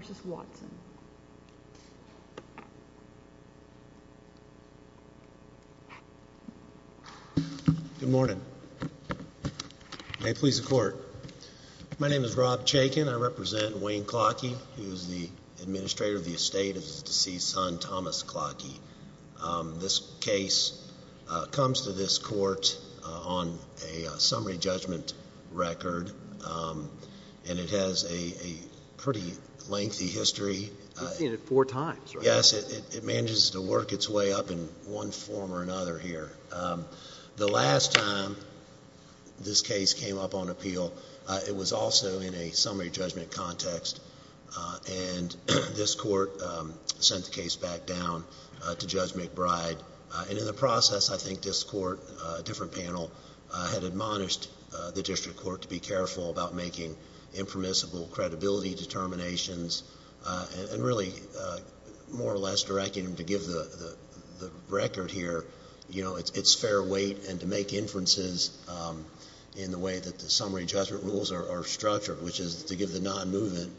Good morning. May it please the court. My name is Rob Chaykin. I represent Wayne Klocke, who is the administrator of the estate of his deceased son, Thomas Klocke. This case comes to this court on a summary judgment record, and it has a pretty lengthy history. You've seen it four times, right? Yes, it manages to work its way up in one form or another here. The last time this case came up on appeal, it was also in a summary judgment context, and this court sent the case back down to Judge McBride. In the process, I think this court, a different panel, had admonished the district court to be careful about making impermissible credibility determinations, and really more or less directing them to give the record here its fair weight and to make inferences in the way that the summary judgment rules are structured, which is to give the nonmovement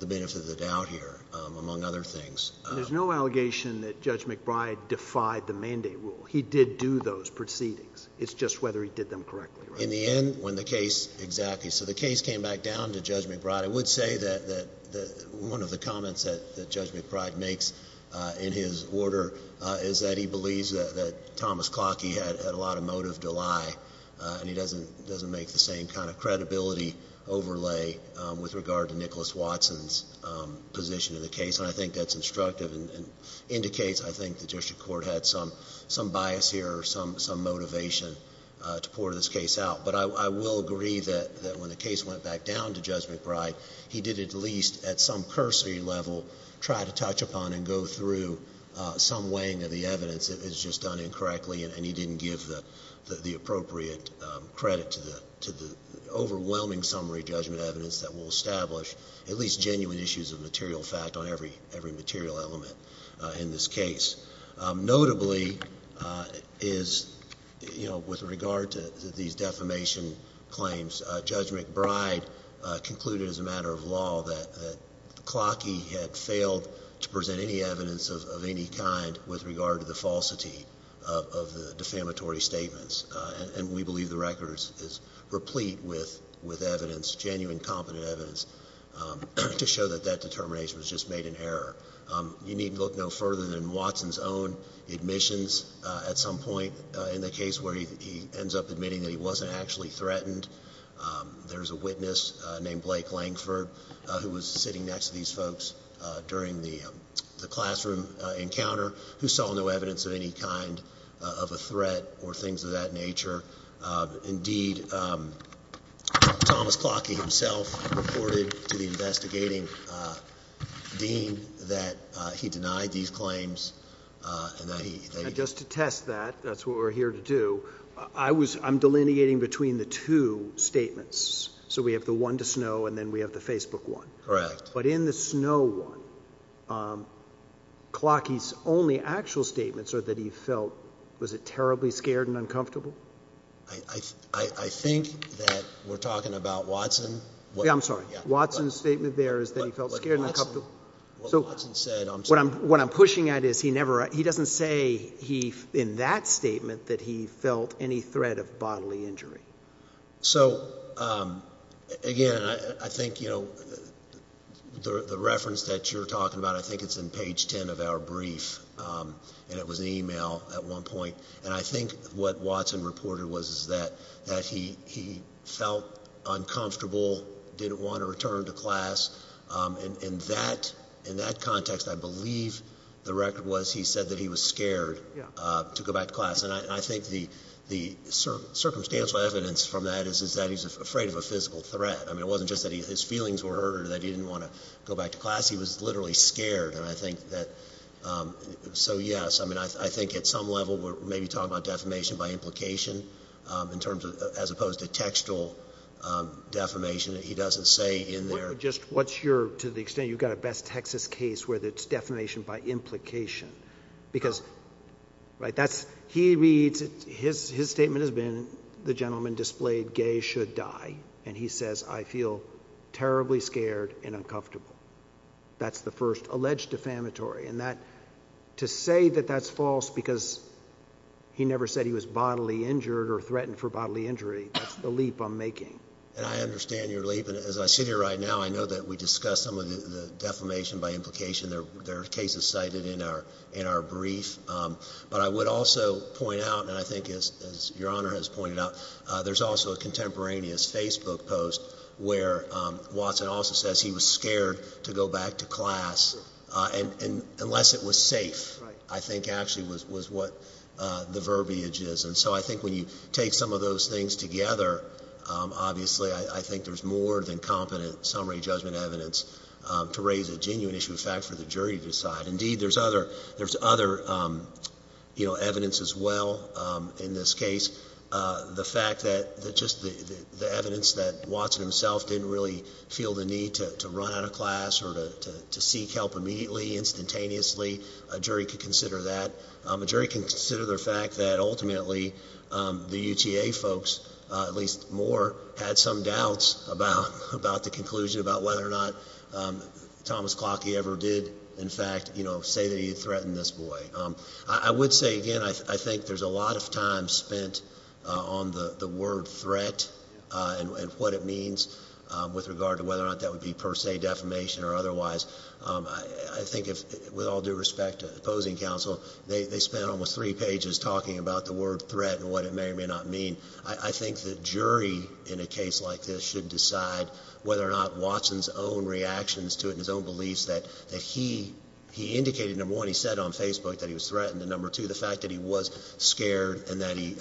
the benefit of the doubt here, among other things. There's no allegation that Judge McBride defied the mandate rule. He did do those proceedings. It's just whether he did them correctly, right? In the end, when the case, exactly. So the case came back down to Judge McBride. I would say that one of the comments that Judge McBride makes in his order is that he believes that Thomas has a motive to lie, and he doesn't make the same kind of credibility overlay with regard to Nicholas Watson's position in the case, and I think that's instructive and indicates, I think, the district court had some bias here or some motivation to port this case out. But I will agree that when the case went back down to Judge McBride, he did at least, at some cursory level, try to touch upon and go through some weighing of the evidence that is just done incorrectly, and he didn't give the appropriate credit to the overwhelming summary judgment evidence that will establish at least genuine issues of material fact on every material element in this case. Notably, is, you know, with regard to these defamation claims, Judge McBride concluded as a matter of law that Clockey had failed to present any evidence of any kind with regard to the falsity of the defamatory statements, and we believe the record is replete with evidence, genuine, competent evidence to show that that determination was just made in error. You need look no further than Watson's own admissions at some point in the case where he ends up admitting that he wasn't actually threatened. There's a witness named Blake Langford who was sitting next to these folks during the classroom encounter who saw no evidence of any kind of a threat or things of that nature. Indeed, Thomas Clockey himself reported to the investigating dean that he denied these claims and that he... Just to test that, that's what we're here to do, I'm delineating between the two statements. So we have the one to Snow and then we have the Facebook one. Correct. But in the Snow one, Clockey's only actual statements are that he felt, was it terribly scared and uncomfortable? I think that we're talking about Watson. Yeah, I'm sorry. Watson's statement there is that he felt scared and uncomfortable. What Watson said, I'm sorry. What I'm pushing at is he doesn't say in that statement that he felt any threat of bodily injury. So again, I think the reference that you're talking about, I think it's in page 10 of our brief and it was an email at one point. And I think what Watson reported was that he felt uncomfortable, didn't want to return to class. In that context, I believe the record was he said that he was scared to go back to class. And I think the circumstantial evidence from that is that he's afraid of a physical threat. I mean, it wasn't just that his feelings were hurt or that he didn't want to go back to class. He was literally scared. And I think that, so yes, I mean, I think at some level we're maybe talking about defamation by implication in terms of, as opposed to textual defamation that he doesn't say in there. Just what's your, to the extent you've got a best Texas case where it's defamation by implication, because right, that's, he reads it, his, his statement has been the gentleman displayed gay should die. And he says, I feel terribly scared and uncomfortable. That's the first alleged defamatory and that to say that that's false because he never said he was bodily injured or threatened for bodily injury. That's the leap I'm making. And I understand you're leaving. As I sit here right now, I know that we discussed some of the defamation by implication there, there are cases cited in our, in our brief. But I would also point out, and I think as, as your honor has pointed out there's also a contemporaneous Facebook post where Watson also says he was scared to go back to class and unless it was safe. I think actually was, was what the verbiage is. And so I think when you take some of those things together, obviously I think there's more than competent summary judgment evidence to raise a genuine issue of fact for the jury to decide indeed, there's other, there's other, you know, evidence as well. In this case the fact that, that just the, the, the evidence that Watson himself didn't really feel the need to, to run out of class or to, to, to seek help immediately, instantaneously, a jury could consider that. A jury can consider the fact that ultimately the UTA folks, at least Moore, had some doubts about, about the conclusion about whether or not Thomas Clocke ever did in fact, you know, say that he had threatened this boy. I would say again, I think there's a lot of time spent on the word threat and what it means with regard to whether or not that would be per se defamation or otherwise. I think if, with all due respect to opposing counsel, they, they spent almost three pages talking about the word threat and what it may or may not mean. I think the jury in a case like this should decide whether or not Watson's own reactions to it and his own beliefs that, that he, he indicated, number one, he said on Facebook that he was threatened and number two, the fact that he was scared and that he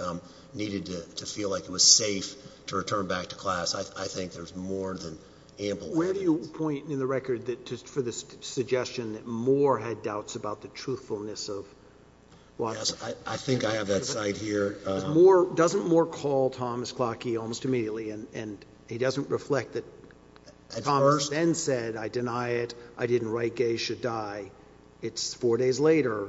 needed to feel like it was safe to return back to class. I think there's more than ample evidence. Where do you point in the record that just for this suggestion that Moore had doubts about the truthfulness of Watson? I think I have that site here. Moore, doesn't Moore call Thomas Clocke almost immediately and, and he doesn't reflect that Thomas then said, I deny it. I didn't write Gay Should Die. It's four days later.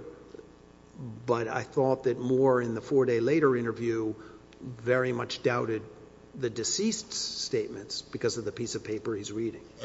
But I thought that Moore in the four day later interview very much doubted the deceased's reading. And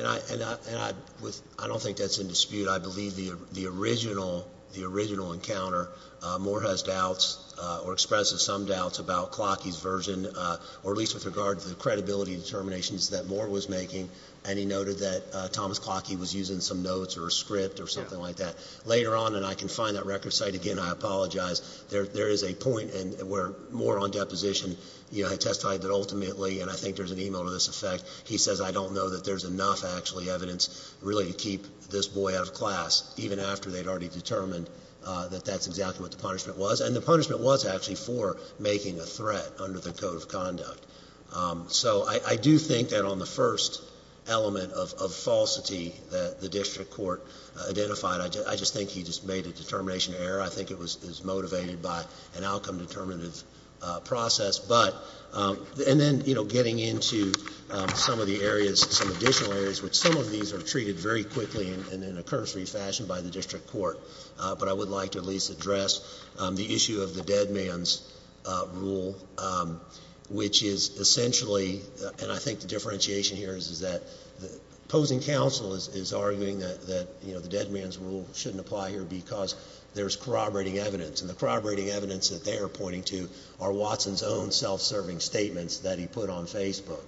I, and I, and I, with, I don't think that's in dispute. I believe the, the original, the original encounter, uh, Moore has doubts, uh, or expressive some doubts about Clocke's version, uh, or at least with regard to the credibility determinations that Moore was making. And he noted that, uh, Thomas Clocke, he was using some notes or a script or something like that later on. And I can find that record site again. I apologize. There, there is a point where Moore on deposition, you know, testified that ultimately, and I think there's an email to this effect. He says, I don't know that there's enough actually evidence really to keep this boy out of class, even after they'd already determined, uh, that that's exactly what the punishment was. And the punishment was actually for making a threat under the code of conduct. Um, so I, I do think that on the first element of, of falsity that the district court identified, I just think he just made a determination error. I think it was, is motivated by an outcome determinative, uh, process, but, um, and then, you know, getting into, um, some of the areas, some additional areas, which some of these are treated very quickly and in a cursory fashion by the district court. Uh, but I would like to at least address, um, the issue of the dead man's rule, um, which is essentially, and I think the differentiation here is, is that the opposing counsel is, is arguing that, that, you know, the dead man's rule shouldn't apply here because there's corroborating evidence and the corroborating evidence that they are pointing to are Watson's own self-serving statements that he put on Facebook,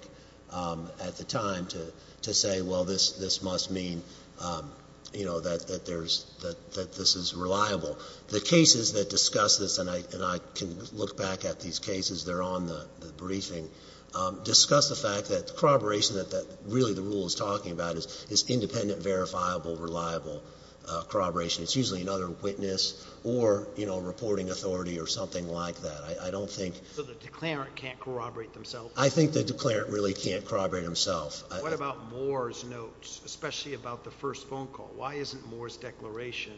um, at the time to, to say, well, this, this must mean, um, you know, that, that there's, that, that this is reliable. The cases that discuss this and I, and I can look back at these cases, they're on the briefing, um, discuss the fact that corroboration that, that really the rule is talking about is, is independent, verifiable, reliable, uh, corroboration. It's usually another witness or, you know, reporting authority or something like that. I, I don't think. So the declarant can't corroborate themselves? I think the declarant really can't corroborate himself. What about Moore's notes, especially about the first phone call? Why isn't Moore's declaration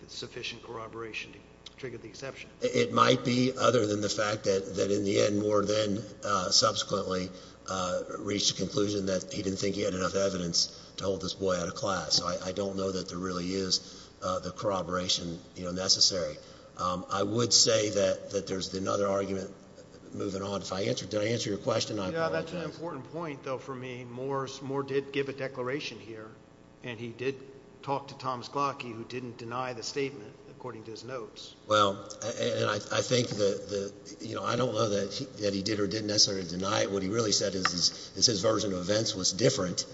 that sufficient corroboration triggered the exception? It might be other than the fact that, that in the end Moore then, uh, subsequently, uh, reached a conclusion that he didn't think he had enough evidence to hold this boy out of class. So I, I don't know that there really is, uh, the corroboration, you know, necessary. Um, I would say that, that there's another argument moving on. If I answered, did I answer your question? Yeah, that's an important point though for me. Moore's, Moore did give a declaration here and he did talk to Tom's Clockie who didn't deny the statement according to his notes. Well, and I, I think that the, you know, I don't know that he, that he did or didn't necessarily deny it. What he really said is his, is his version of events was different,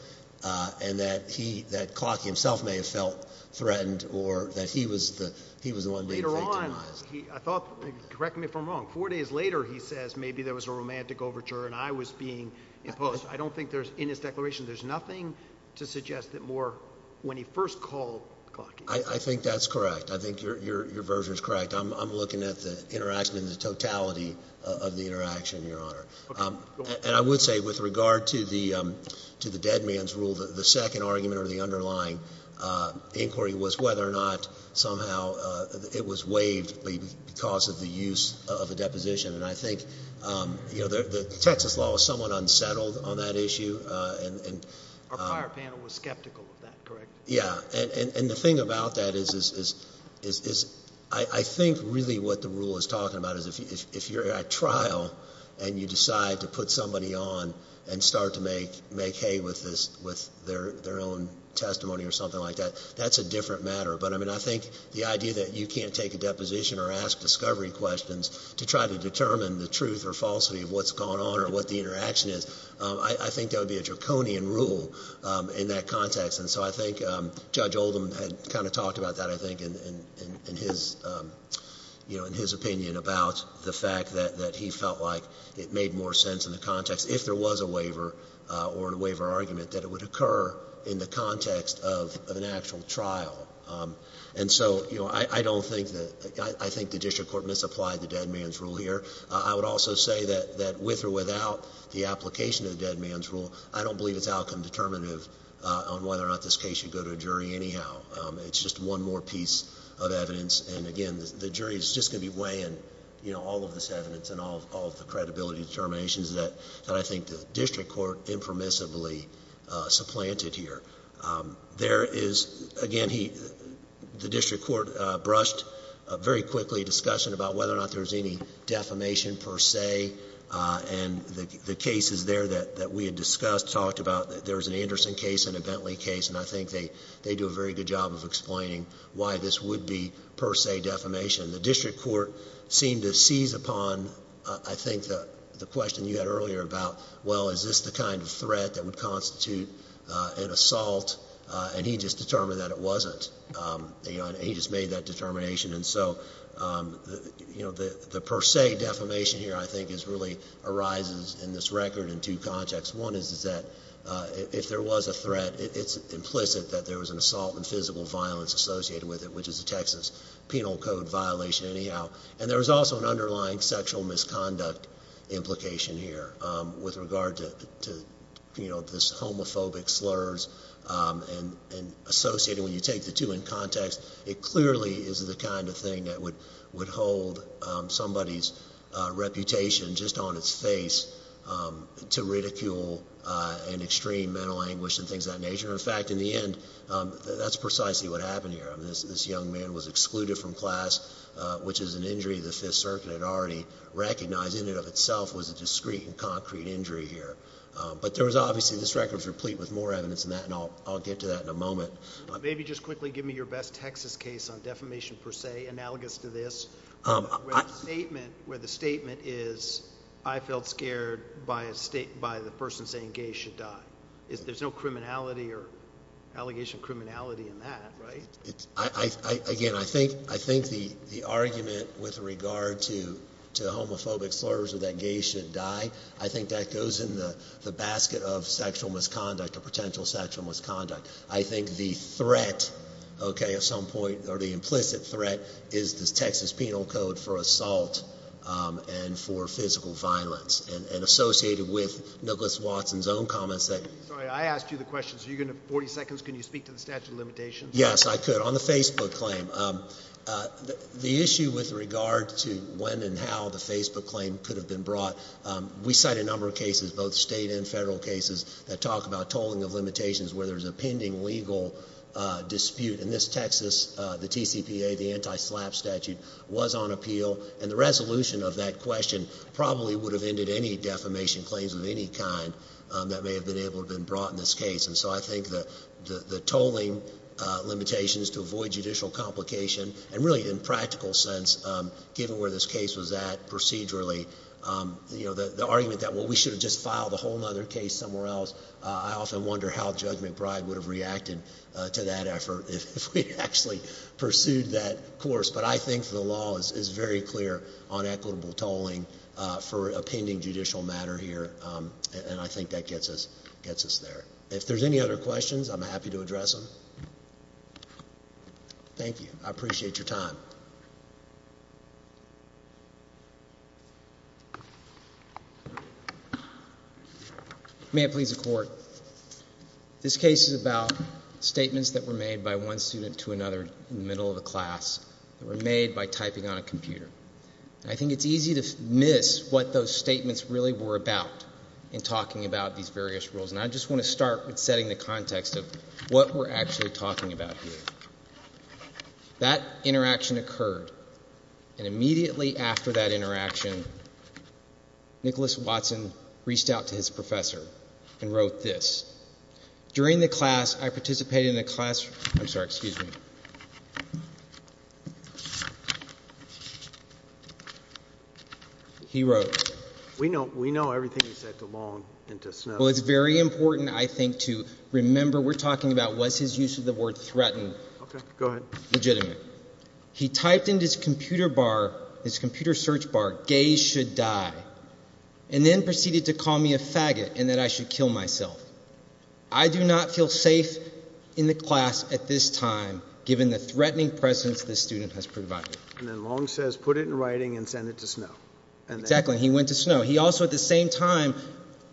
uh, and that he, that Clockie himself may have felt threatened or that he was the, he was the one being satanized. I thought, correct me if I'm wrong, four days later he says maybe there was a romantic overture and I was being imposed. I don't think there's, in his declaration, there's nothing to suggest that Moore, when he first called Clockie. I think that's correct. I think your, your, your version is correct. I'm, I'm looking at the interaction and the totality of the interaction, Your Honor. Um, and I would say with regard to the, um, to the dead man's rule, the second argument or the underlying, uh, inquiry was whether or not somehow, uh, it was waived because of the use of a deposition. And I think, um, you know, the, the Texas law was somewhat unsettled on that issue. Uh, and, and, uh, our prior panel was skeptical of that, correct? Yeah. And, and, and the thing about that is, is, is, is, is I think really what the rule is talking about is if you, if you're at trial and you decide to put somebody on and start to make, make hay with this, with their, their own testimony or something like that, that's a different matter. But I mean, I think the idea that you can't take a deposition or ask discovery questions to try to determine the truth or falsity of what's going on or what the interaction is, um, I, I think that would be a draconian rule, um, in that context. And so I think, um, Judge Oldham had kind of talked about that, I think, in, in, in, in his, um, you know, in his opinion about the fact that, that he felt like it made more sense in the context, if there was a waiver, uh, or a waiver argument, that it would occur in the context of, of an actual trial. Um, and so, you know, I, I don't think that, I, I think the district court misapplied the dead man's rule here. I would also say that, that with or without the application of the dead man's rule, I don't believe it's outcome determinative, uh, on whether or not this case should go to a jury anyhow. Um, it's just one more piece of evidence. And again, the jury is just going to be weighing, you know, all of this evidence and all, all of the credibility determinations that, that I think the district court impermissibly, uh, supplanted here. Um, there is, again, he, the district court, uh, brushed, uh, very quickly a discussion about whether or not there was any defamation per se, uh, and the, the cases there that, that we had discussed, talked about, there was an Anderson case and a Bentley case, and I think they, they do a very good job of explaining why this would be per se defamation. The district court seemed to seize upon, uh, I think the, the question you had earlier about, well, is this the kind of threat that would constitute, uh, an assault? Uh, and he just determined that it wasn't. Um, and he just made that determination. And so, um, you know, the, the per se defamation here, I think is really arises in this record in two contexts. One is, is that, uh, if there was a threat, it's implicit that there was an assault and And there was also an underlying sexual misconduct implication here, um, with regard to, to, you know, this homophobic slurs, um, and, and associated when you take the two in context, it clearly is the kind of thing that would, would hold, um, somebody's, uh, reputation just on its face, um, to ridicule, uh, and extreme mental anguish and things of that nature. In fact, in the end, um, that's precisely what happened here. I mean, this, this young man was excluded from class, uh, which is an injury. The fifth circuit had already recognized in and of itself was a discreet and concrete injury here. Um, but there was obviously this record was replete with more evidence than that. And I'll, I'll get to that in a moment, but maybe just quickly give me your best Texas case on defamation per se analogous to this, um, statement where the statement is, I felt scared by a state, by the person saying gay should die is there's no criminality or allegation of criminality in that, right? I, I, again, I think, I think the, the argument with regard to, to homophobic slurs or that gay should die, I think that goes in the, the basket of sexual misconduct or potential sexual misconduct. I think the threat, okay, at some point or the implicit threat is this Texas penal code for assault, um, and for physical violence and, and associated with Nicholas Watson's own comments that. Sorry, I asked you the question. So you're going to 40 seconds. Can you speak to the statute of limitations? Yes, I could. On the Facebook claim, um, uh, the issue with regard to when and how the Facebook claim could have been brought. Um, we cite a number of cases, both state and federal cases that talk about tolling of limitations where there's a pending legal, uh, dispute in this Texas, uh, the TCPA, the anti-slap statute was on appeal and the resolution of that question probably would have ended any defamation claims of any kind, um, that may have been able to been brought in this case. And so I think the, the, the tolling, uh, limitations to avoid judicial complication and really in practical sense, um, given where this case was at procedurally, um, you know, the, the argument that, well, we should have just filed a whole nother case somewhere else. Uh, I often wonder how Judge McBride would have reacted, uh, to that effort if we actually pursued that course. But I think the law is, is very clear on equitable tolling, uh, for a pending judicial matter here. Um, and I think that gets us, gets us there. If there's any other questions, I'm happy to address them. Thank you. I appreciate your time. May it please the court. This case is about statements that were made by one student to another in the middle of the class that were made by typing on a computer. I think it's easy to miss what those statements really were about in talking about these various rules. And I just want to start with setting the context of what we're actually talking about here. That interaction occurred and immediately after that interaction, Nicholas Watson reached out to his professor and wrote this. During the class, I participated in a class, I'm sorry, excuse me. He wrote. We know, we know everything you said to Long and to Snow. Well, it's very important. I think to remember, we're talking about what's his use of the word threatened, legitimate. He typed into his computer bar, his computer search bar, gays should die, and then proceeded to call me a faggot and that I should kill myself. I do not feel safe in the class at this time, given the threatening presence this student has provided. And then Long says, put it in writing and send it to Snow. Exactly. He went to Snow. He also, at the same time,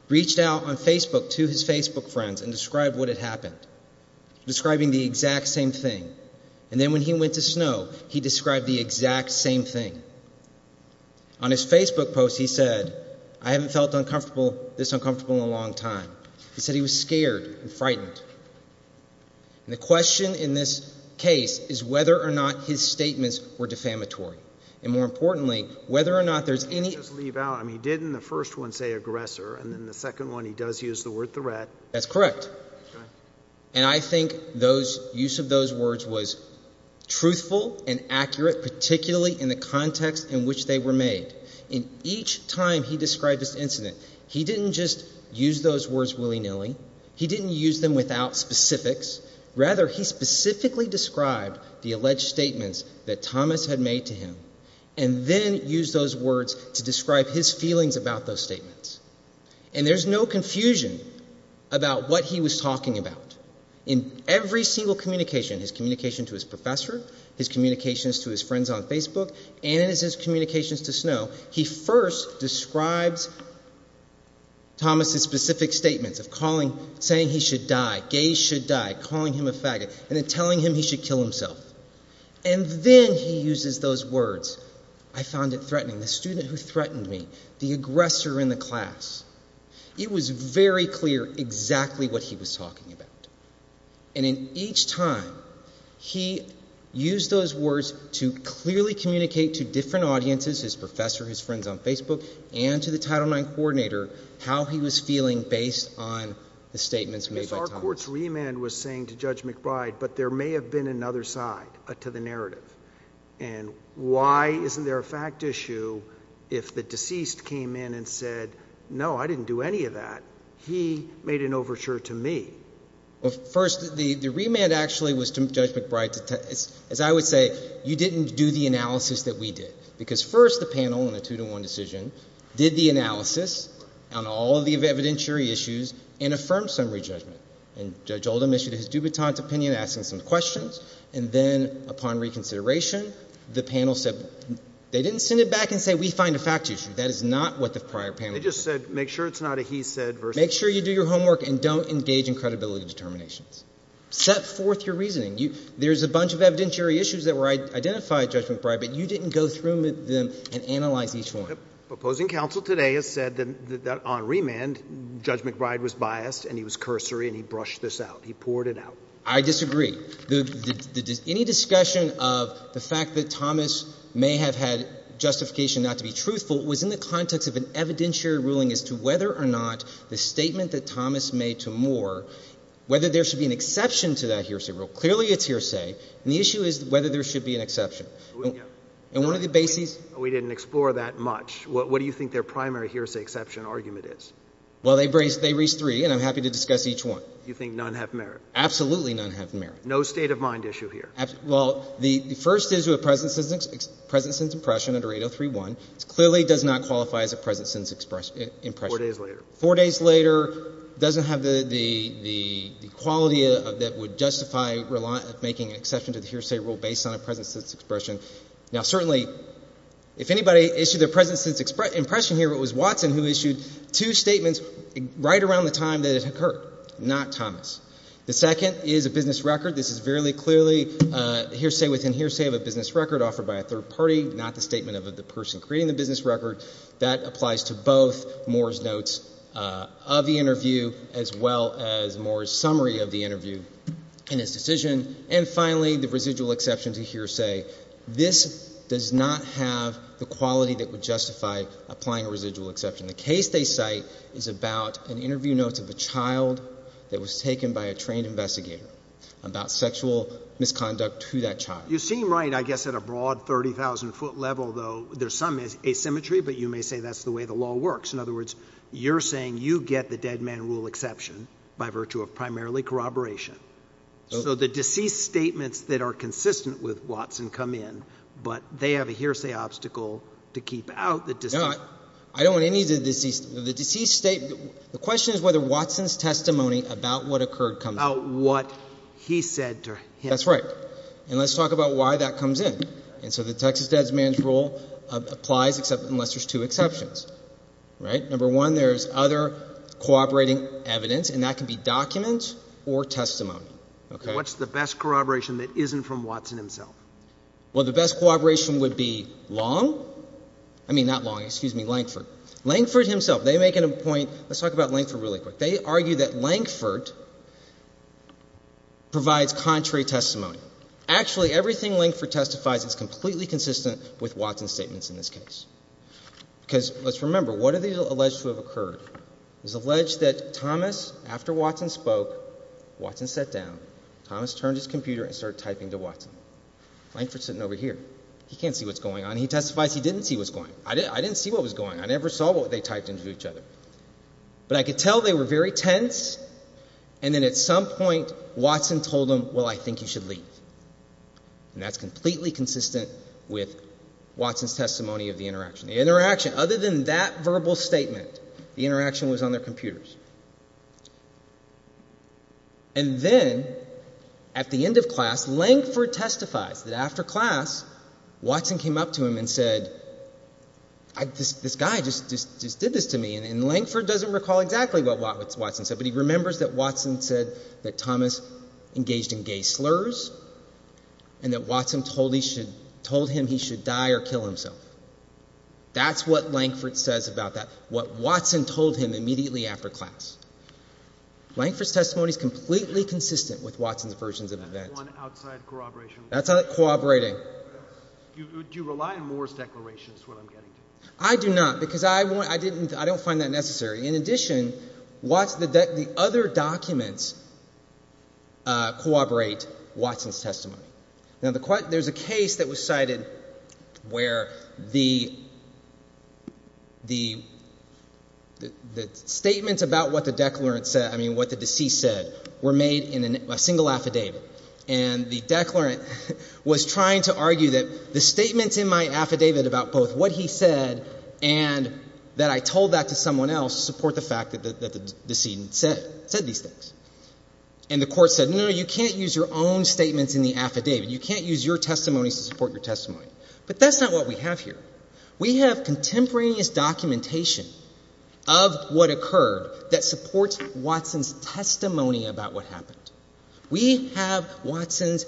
reached out on Facebook to his Facebook friends and described what had happened, describing the exact same thing. And then when he went to Snow, he described the exact same thing. On his Facebook post, he said, I haven't felt this uncomfortable in a long time. He said he was scared and frightened. And the question in this case is whether or not his statements were defamatory. And more importantly, whether or not there's any... Can I just leave out, I mean, didn't the first one say aggressor, and then the second one he does use the word threat. That's correct. And I think those use of those words was truthful and accurate, particularly in the context in which they were made. In each time he described this incident, he didn't just use those words willy-nilly. He didn't use them without specifics. Rather, he specifically described the alleged statements that Thomas had made to him, and then used those words to describe his feelings about those statements. And there's no confusion about what he was talking about. In every single communication, his communication to his professor, his communications to his friends on Facebook, and his communications to Snow, he first describes Thomas's specific statements of calling, saying he should die, gays should die, calling him a faggot, and then telling him he should kill himself. And then he uses those words, I found it threatening, the student who threatened me, the aggressor in the class. It was very clear exactly what he was talking about. And in each time, he used those words to clearly communicate to different audiences, his professor, his friends on Facebook, and to the Title IX coordinator how he was feeling based on the statements made by Thomas. If our Court's remand was saying to Judge McBride, but there may have been another side to the narrative, and why isn't there a fact issue if the deceased came in and said, no, I didn't do any of that, he made an overture to me? Well, first, the remand actually was to Judge McBride, as I would say, you didn't do the two-to-one decision, did the analysis on all of the evidentiary issues, and affirmed summary judgment. And Judge Oldham issued his dubitante opinion, asking some questions, and then, upon reconsideration, the panel said, they didn't send it back and say, we find a fact issue, that is not what the prior panel did. They just said, make sure it's not a he said versus— Make sure you do your homework and don't engage in credibility determinations. Set forth your reasoning. There's a bunch of evidentiary issues that were identified, Judge McBride, but you didn't go through them and analyze each one. Opposing counsel today has said that on remand, Judge McBride was biased and he was cursory and he brushed this out. He poured it out. I disagree. Any discussion of the fact that Thomas may have had justification not to be truthful was in the context of an evidentiary ruling as to whether or not the statement that Thomas made to Moore, whether there should be an exception to that hearsay rule. Clearly it's hearsay. And the issue is whether there should be an exception. And one of the bases— We didn't explore that much. What do you think their primary hearsay exception argument is? Well, they raised three, and I'm happy to discuss each one. You think none have merit? Absolutely none have merit. No state of mind issue here? Well, the first is with present sentence impression under 803.1. It clearly does not qualify as a present sentence impression. Four days later. Four days later. It doesn't have the quality that would justify making an exception to the hearsay rule based on a present sentence expression. Now certainly if anybody issued their present sentence impression here, it was Watson who issued two statements right around the time that it occurred, not Thomas. The second is a business record. This is very clearly hearsay within hearsay of a business record offered by a third party, not the statement of the person creating the business record. That applies to both Moore's notes of the interview as well as Moore's summary of the interview and his decision. And finally, the residual exception to hearsay. This does not have the quality that would justify applying a residual exception. The case they cite is about an interview notes of a child that was taken by a trained investigator about sexual misconduct to that child. You seem right, I guess, at a broad 30,000 foot level, though there's some asymmetry, but you may say that's the way the law works. In other words, you're saying you get the dead man rule exception by virtue of primarily corroboration. So the deceased statements that are consistent with Watson come in, but they have a hearsay obstacle to keep out the deceased. I don't want any of the deceased, the deceased statement, the question is whether Watson's testimony about what occurred comes out. What he said to him. That's right. And let's talk about why that comes in. And so the Texas dead man's rule applies except unless there's two exceptions, right? Number one, there's other corroborating evidence, and that can be documents or testimony. Okay. What's the best corroboration that isn't from Watson himself? Well, the best corroboration would be Long, I mean, not Long, excuse me, Lankford. Lankford himself, they make it a point, let's talk about Lankford really quick. They argue that Lankford provides contrary testimony. Actually everything Lankford testifies is completely consistent with Watson's statements in this case. Because let's remember, what are they alleged to have occurred? It's alleged that Thomas, after Watson spoke, Watson sat down, Thomas turned his computer and started typing to Watson. Lankford's sitting over here. He can't see what's going on. He testifies he didn't see what's going on. I didn't see what was going on. I never saw what they typed into each other. But I could tell they were very tense, and then at some point Watson told him, well, I think you should leave. And that's completely consistent with Watson's testimony of the interaction. The interaction, other than that verbal statement, the interaction was on their computers. And then at the end of class, Lankford testifies that after class, Watson came up to him and said, this guy just did this to me. And Lankford doesn't recall exactly what Watson said, but he remembers that Watson said that and that Watson told him he should die or kill himself. That's what Lankford says about that, what Watson told him immediately after class. Lankford's testimony is completely consistent with Watson's versions of events. That's one outside corroboration. That's not corroborating. Do you rely on Moore's declaration is what I'm getting to? I do not, because I don't find that necessary. In addition, the other documents corroborate Watson's testimony. Now, there's a case that was cited where the statements about what the declarant said, I mean what the deceased said, were made in a single affidavit. And the declarant was trying to argue that the statements in my affidavit about both what he said and that I told that to someone else support the fact that the decedent said these things. And the court said, no, no, you can't use your own statements in the affidavit. You can't use your testimonies to support your testimony. But that's not what we have here. We have contemporaneous documentation of what occurred that supports Watson's testimony about what happened. We have Watson's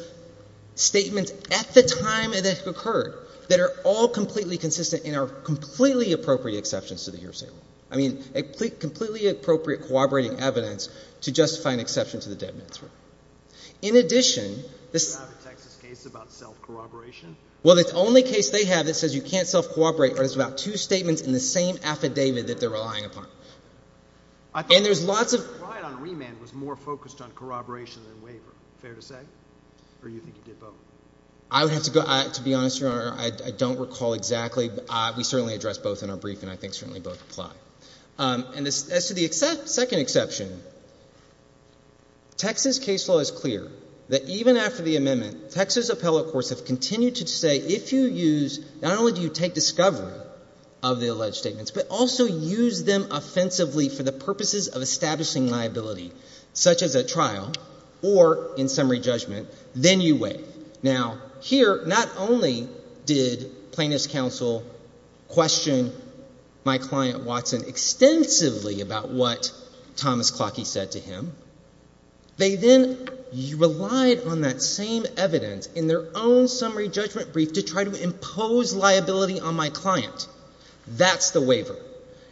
statements at the time that occurred that are all completely consistent and are completely appropriate exceptions to the year of sale. I mean, completely appropriate corroborating evidence to justify an exception to the dead man's word. In addition, this— Do you have a Texas case about self-corroboration? Well, the only case they have that says you can't self-corroborate is about two statements in the same affidavit that they're relying upon. And there's lots of— I thought the case you tried on remand was more focused on corroboration than waiver. Fair to say? Or you think you did both? I would have to go—to be honest, Your Honor, I don't recall exactly. We certainly addressed both in our brief, and I think certainly both apply. And as to the second exception, Texas case law is clear that even after the amendment, Texas appellate courts have continued to say if you use—not only do you take discovery of the alleged statements, but also use them offensively for the purposes of establishing liability, such as at trial or in summary judgment, then you waive. Now, here, not only did plaintiff's counsel question my client, Watson, extensively about what Thomas Clockie said to him, they then relied on that same evidence in their own summary judgment brief to try to impose liability on my client. That's the waiver.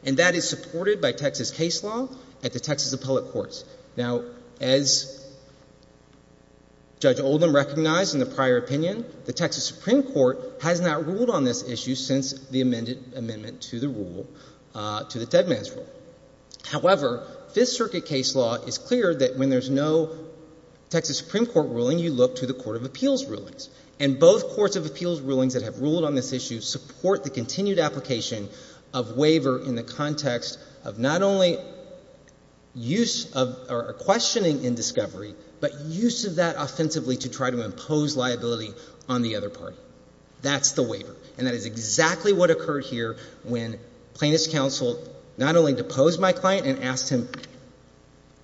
And that is supported by Texas case law at the Texas appellate courts. Now, as Judge Oldham recognized in the prior opinion, the Texas Supreme Court has not ruled on this issue since the amendment to the rule—to the Deadman's Rule. However, Fifth Circuit case law is clear that when there's no Texas Supreme Court ruling, you look to the court of appeals rulings. And both courts of appeals rulings that have ruled on this issue support the continued application of waiver in the context of not only use of—or questioning in discovery, but use of that offensively to try to impose liability on the other party. That's the waiver. And that is exactly what occurred here when plaintiff's counsel not only deposed my client and asked him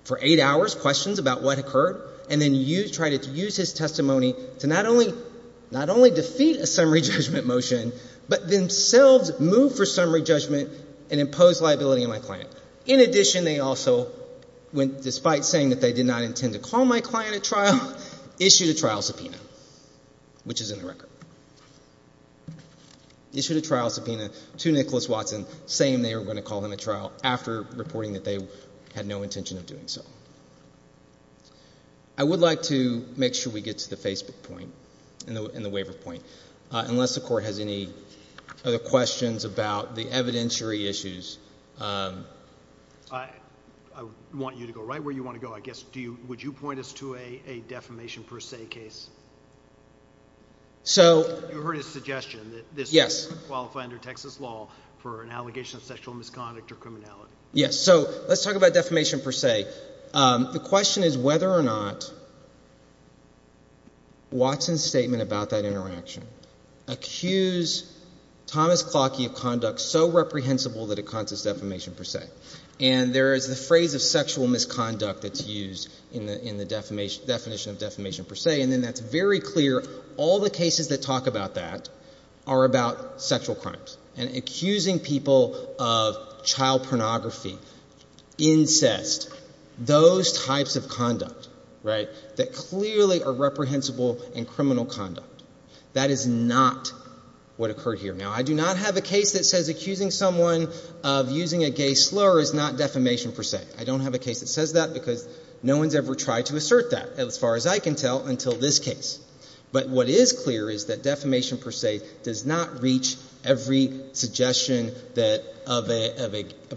for eight hours questions about what occurred, and then used—tried to use his testimony to not only—not only defeat a summary judgment motion, but themselves move for summary judgment and impose liability on my client. In addition, they also went—despite saying that they did not intend to call my client at trial, issued a trial subpoena, which is in the record. Issued a trial subpoena to Nicholas Watson, saying they were going to call him at trial after reporting that they had no intention of doing so. I would like to make sure we get to the Facebook point and the waiver point. Unless the court has any other questions about the evidentiary issues. I want you to go right where you want to go, I guess. Do you—would you point us to a defamation per se case? So— You heard his suggestion that this case would qualify under Texas law for an allegation of sexual misconduct or criminality. Yes. So let's talk about defamation per se. The question is whether or not Watson's statement about that interaction accused Thomas Klotke of conduct so reprehensible that it causes defamation per se. And there is the phrase of sexual misconduct that's used in the definition of defamation per se, and then that's very clear, all the cases that talk about that are about sexual crimes. And accusing people of child pornography, incest, those types of conduct, right, that clearly are reprehensible and criminal conduct. That is not what occurred here. Now, I do not have a case that says accusing someone of using a gay slur is not defamation per se. I don't have a case that says that because no one's ever tried to assert that, as far as I can tell, until this case. But what is clear is that defamation per se does not reach every suggestion that—of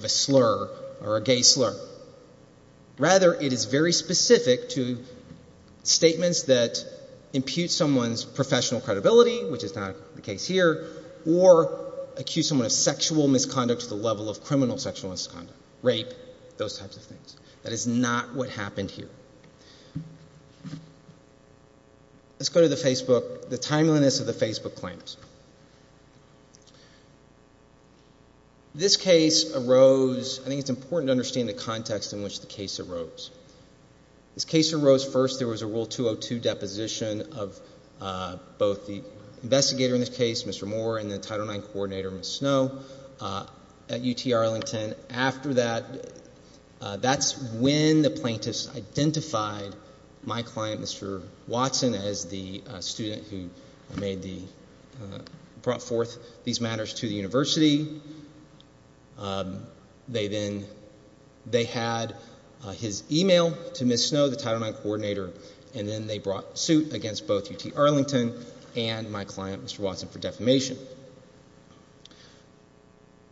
a slur or a gay slur. Rather, it is very specific to statements that impute someone's professional credibility, which is not the case here, or accuse someone of sexual misconduct to the level of criminal sexual misconduct, rape, those types of things. That is not what happened here. Let's go to the Facebook—the timeliness of the Facebook claims. This case arose—I think it's important to understand the context in which the case arose. This case arose first. There was a Rule 202 deposition of both the investigator in this case, Mr. Moore, and the Title IX coordinator, Ms. Snow, at UT Arlington. After that, that's when the plaintiffs identified my client, Mr. Watson, as the student who made the—brought forth these matters to the university. They then—they had his email to Ms. Snow, the Title IX coordinator, and then they brought suit against both UT Arlington and my client, Mr. Watson, for defamation.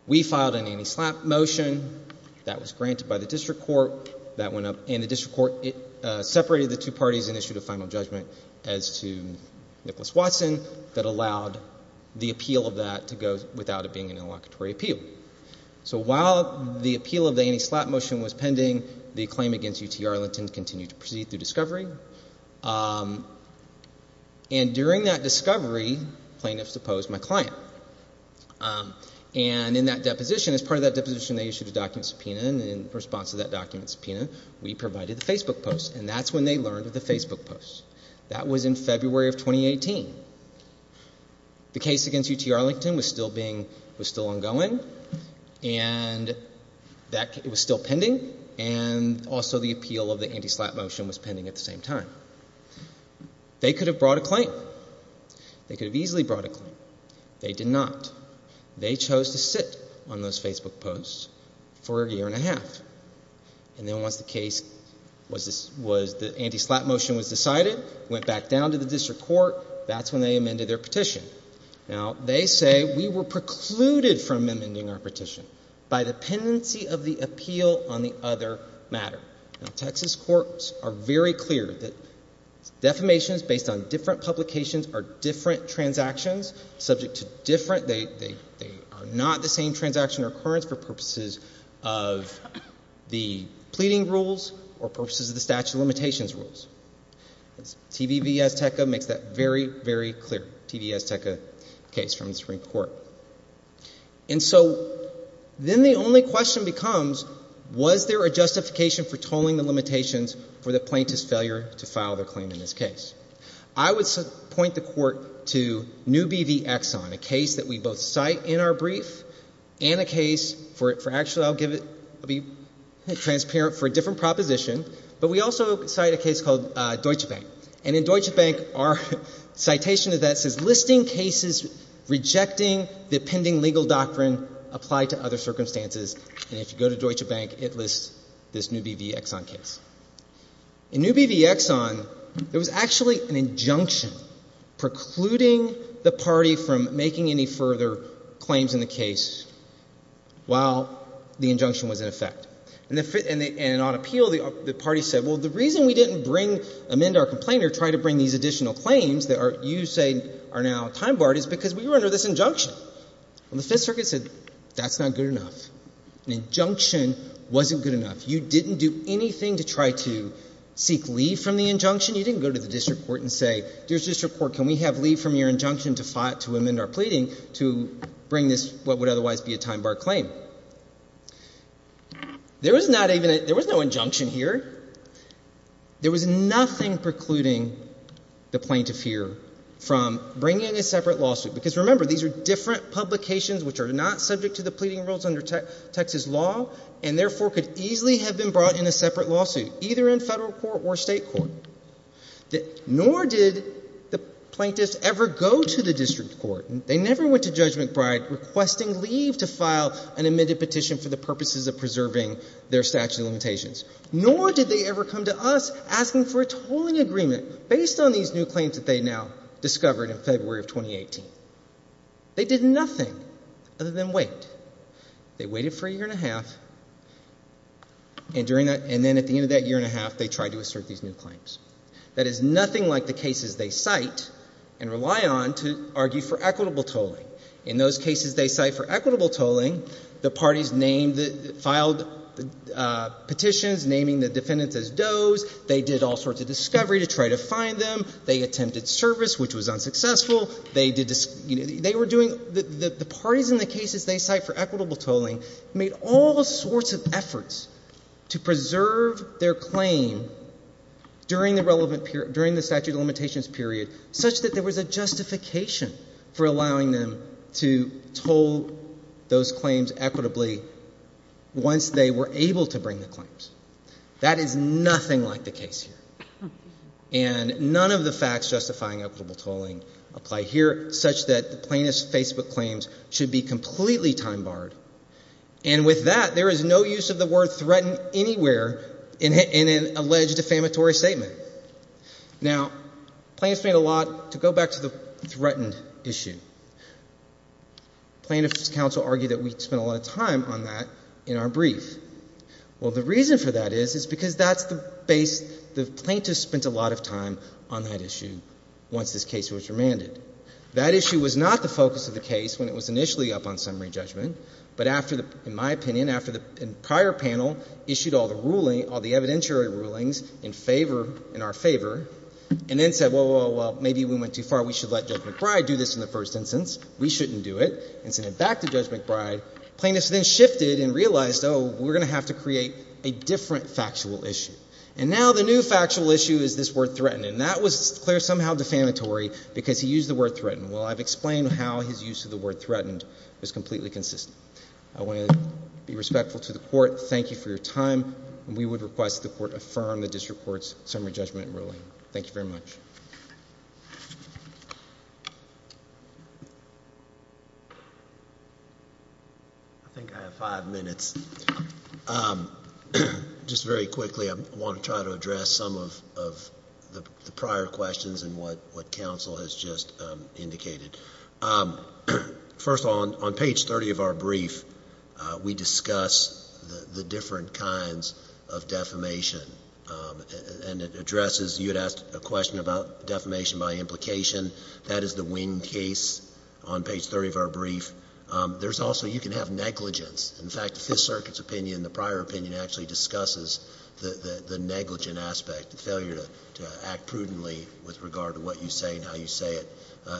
We filed an anti-slap motion. That was granted by the district court. That went up, and the district court separated the two parties and issued a final judgment as to Nicholas Watson that allowed the appeal of that to go without it being an inlocutory appeal. So while the appeal of the anti-slap motion was pending, the claim against UT Arlington continued to proceed through discovery. And during that discovery, plaintiffs deposed my client. And in that deposition, as part of that deposition, they issued a document subpoena, and in response to that document subpoena, we provided the Facebook post. And that's when they learned of the Facebook post. That was in February of 2018. The case against UT Arlington was still being—was still ongoing, and that—it was still pending, and also the appeal of the anti-slap motion was pending at the same time. They could have brought a claim. They could have easily brought a claim. They did not. They chose to sit on those Facebook posts for a year and a half. And then once the case was—the anti-slap motion was decided, went back down to the district court, that's when they amended their petition. Now, they say we were precluded from amending our petition by the pendency of the appeal on the other matter. Now, Texas courts are very clear that defamations based on different publications are different transactions. Subject to different—they are not the same transaction or occurrence for purposes of the pleading rules or purposes of the statute of limitations rules. TVV Azteca makes that very, very clear, TV Azteca case from the Supreme Court. And so then the only question becomes, was there a justification for tolling the limitations for the plaintiff's failure to file their claim in this case? I would point the court to Newby v. Exxon, a case that we both cite in our brief and a case for—actually, I'll give it—I'll be transparent for a different proposition. But we also cite a case called Deutsche Bank. And in Deutsche Bank, our citation of that says, Listing cases rejecting the pending legal doctrine applied to other circumstances. And if you go to Deutsche Bank, it lists this Newby v. Exxon case. In Newby v. Exxon, there was actually an injunction precluding the party from making any further claims in the case while the injunction was in effect. And on appeal, the party said, well, the reason we didn't bring—amend our complainer, try to bring these additional claims that you say are now time-barred is because we were under this injunction. And the Fifth Circuit said, that's not good enough. An injunction wasn't good enough. You didn't do anything to try to seek leave from the injunction. You didn't go to the district court and say, dear district court, can we have leave from your injunction to amend our pleading to bring this what would otherwise be a time-barred claim. There was not even a—there was no injunction here. There was nothing precluding the plaintiff here from bringing a separate lawsuit. Because remember, these are different publications which are not subject to the pleading rules under Texas law, and therefore could easily have been brought in a separate lawsuit, either in federal court or state court. Nor did the plaintiffs ever go to the district court. They never went to Judge McBride requesting leave to file an amended petition for the purposes of preserving their statute of limitations. Nor did they ever come to us asking for a tolling agreement based on these new claims that they now discovered in February of 2018. They did nothing other than wait. They waited for a year and a half, and during that—and then at the end of that year and a half, they tried to assert these new claims. That is nothing like the cases they cite and rely on to argue for equitable tolling. In those cases they cite for equitable tolling, the parties named the—filed petitions naming the defendants as does. They did all sorts of discovery to try to find them. They attempted service, which was unsuccessful. They did—they were doing—the parties in the cases they cite for equitable tolling made all sorts of efforts to preserve their claim during the relevant period, such that there was a justification for allowing them to toll those claims equitably once they were able to bring the claims. That is nothing like the case here. And none of the facts justifying equitable tolling apply here, such that the plaintiff's Facebook claims should be completely time-barred. And with that, there is no use of the word threatened anywhere in an alleged defamatory statement. Now, plaintiffs made a lot—to go back to the threatened issue, plaintiffs' counsel argued that we spent a lot of time on that in our brief. Well, the reason for that is, is because that's the base—the plaintiffs spent a lot of time on that issue once this case was remanded. That issue was not the focus of the case when it was initially up on summary judgment, but after the—in my opinion, after the prior panel issued all the ruling—all the evidentiary rulings in favor—in our favor, and then said, well, well, well, maybe we went too far. We should let Judge McBride do this in the first instance. We shouldn't do it, and sent it back to Judge McBride. Plaintiffs then shifted and realized, oh, we're going to have to create a different factual issue. And now the new factual issue is this word threatened, and that was declared somehow defamatory because he used the word threatened. Well, I've explained how his use of the word threatened was completely consistent. I want to be respectful to the Court. Thank you for your time, and we would request the Court affirm the district court's summary judgment ruling. Thank you very much. I think I have five minutes. Just very quickly, I want to try to address some of the prior questions and what counsel has just indicated. First of all, on page 30 of our brief, we discuss the different kinds of defamation, and it addresses—you had asked a question about defamation by implication. That is the wing case on page 30 of our brief. There's also—you can have negligence. In fact, the Fifth Circuit's opinion, the prior opinion, actually discusses the negligent aspect, the failure to act prudently with regard to what you say and how you say it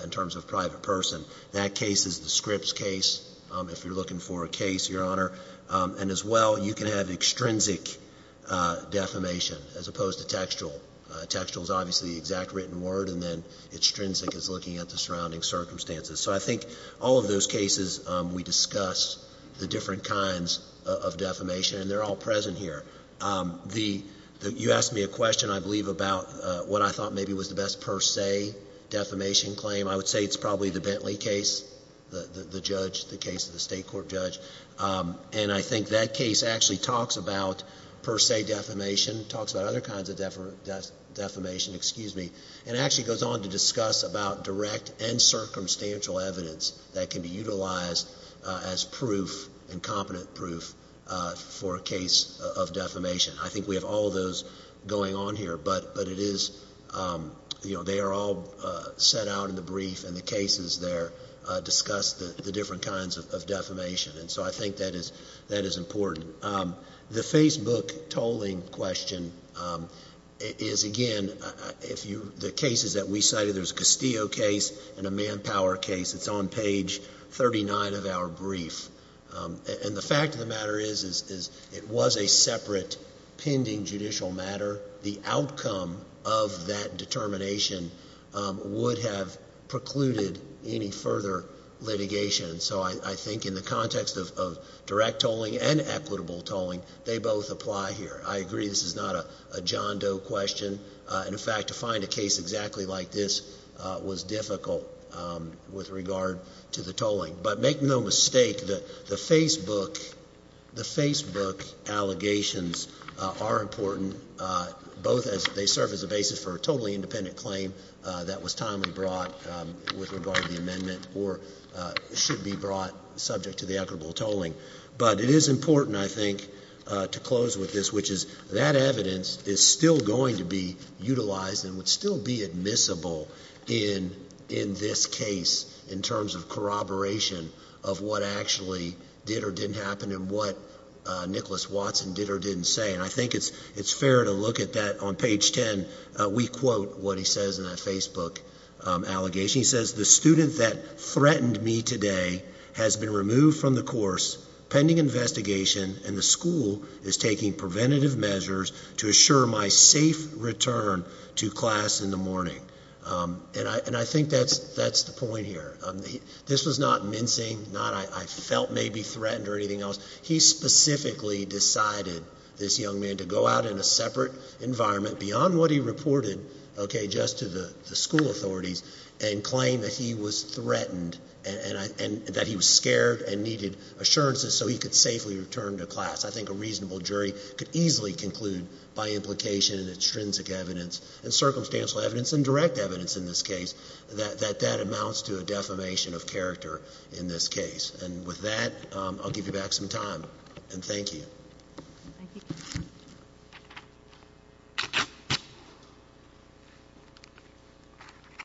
in terms of a private person. That case is the Scripps case, if you're looking for a case, Your Honor. And as well, you can have extrinsic defamation as opposed to textual. Textual is obviously the exact written word, and then extrinsic is looking at the surrounding circumstances. So I think all of those cases, we discuss the different kinds of defamation, and they're all present here. You asked me a question, I believe, about what I thought maybe was the best per se defamation claim. I would say it's probably the Bentley case, the judge, the case of the state court judge. And I think that case actually talks about per se defamation, talks about other kinds of defamation, and actually goes on to discuss about direct and circumstantial evidence that can be utilized as proof, and competent proof for a case of defamation. I think we have all of those going on here, but it is, you know, they are all set out in the brief, and the cases there discuss the different kinds of defamation. And so I think that is important. The Facebook tolling question is, again, the cases that we cited, there's a Castillo case and a Manpower case. It's on page 39 of our brief. And the fact of the matter is it was a separate pending judicial matter. The outcome of that determination would have precluded any further litigation. So I think in the context of direct tolling and equitable tolling, they both apply here. I agree this is not a John Doe question. In fact, to find a case exactly like this was difficult with regard to the tolling. But make no mistake, the Facebook allegations are important, both as they serve as a basis for a totally independent claim that was timely brought with regard to the amendment or should be brought subject to the equitable tolling. But it is important, I think, to close with this, which is that evidence is still going to be utilized and would still be admissible in this case in terms of corroboration of what actually did or didn't happen and what Nicholas Watson did or didn't say. And I think it's fair to look at that on page 10. We quote what he says in that Facebook allegation. He says the student that threatened me today has been removed from the course pending investigation and the school is taking preventative measures to assure my safe return to class in the morning. And I think that's the point here. This was not mincing, not I felt maybe threatened or anything else. He specifically decided, this young man, to go out in a separate environment beyond what he reported, okay, just to the school authorities and claim that he was threatened and that he was scared and needed assurances so he could safely return to class. I think a reasonable jury could easily conclude by implication and extrinsic evidence and circumstantial evidence and direct evidence in this case that that amounts to a defamation of character in this case. And with that, I'll give you back some time, and thank you. Thank you.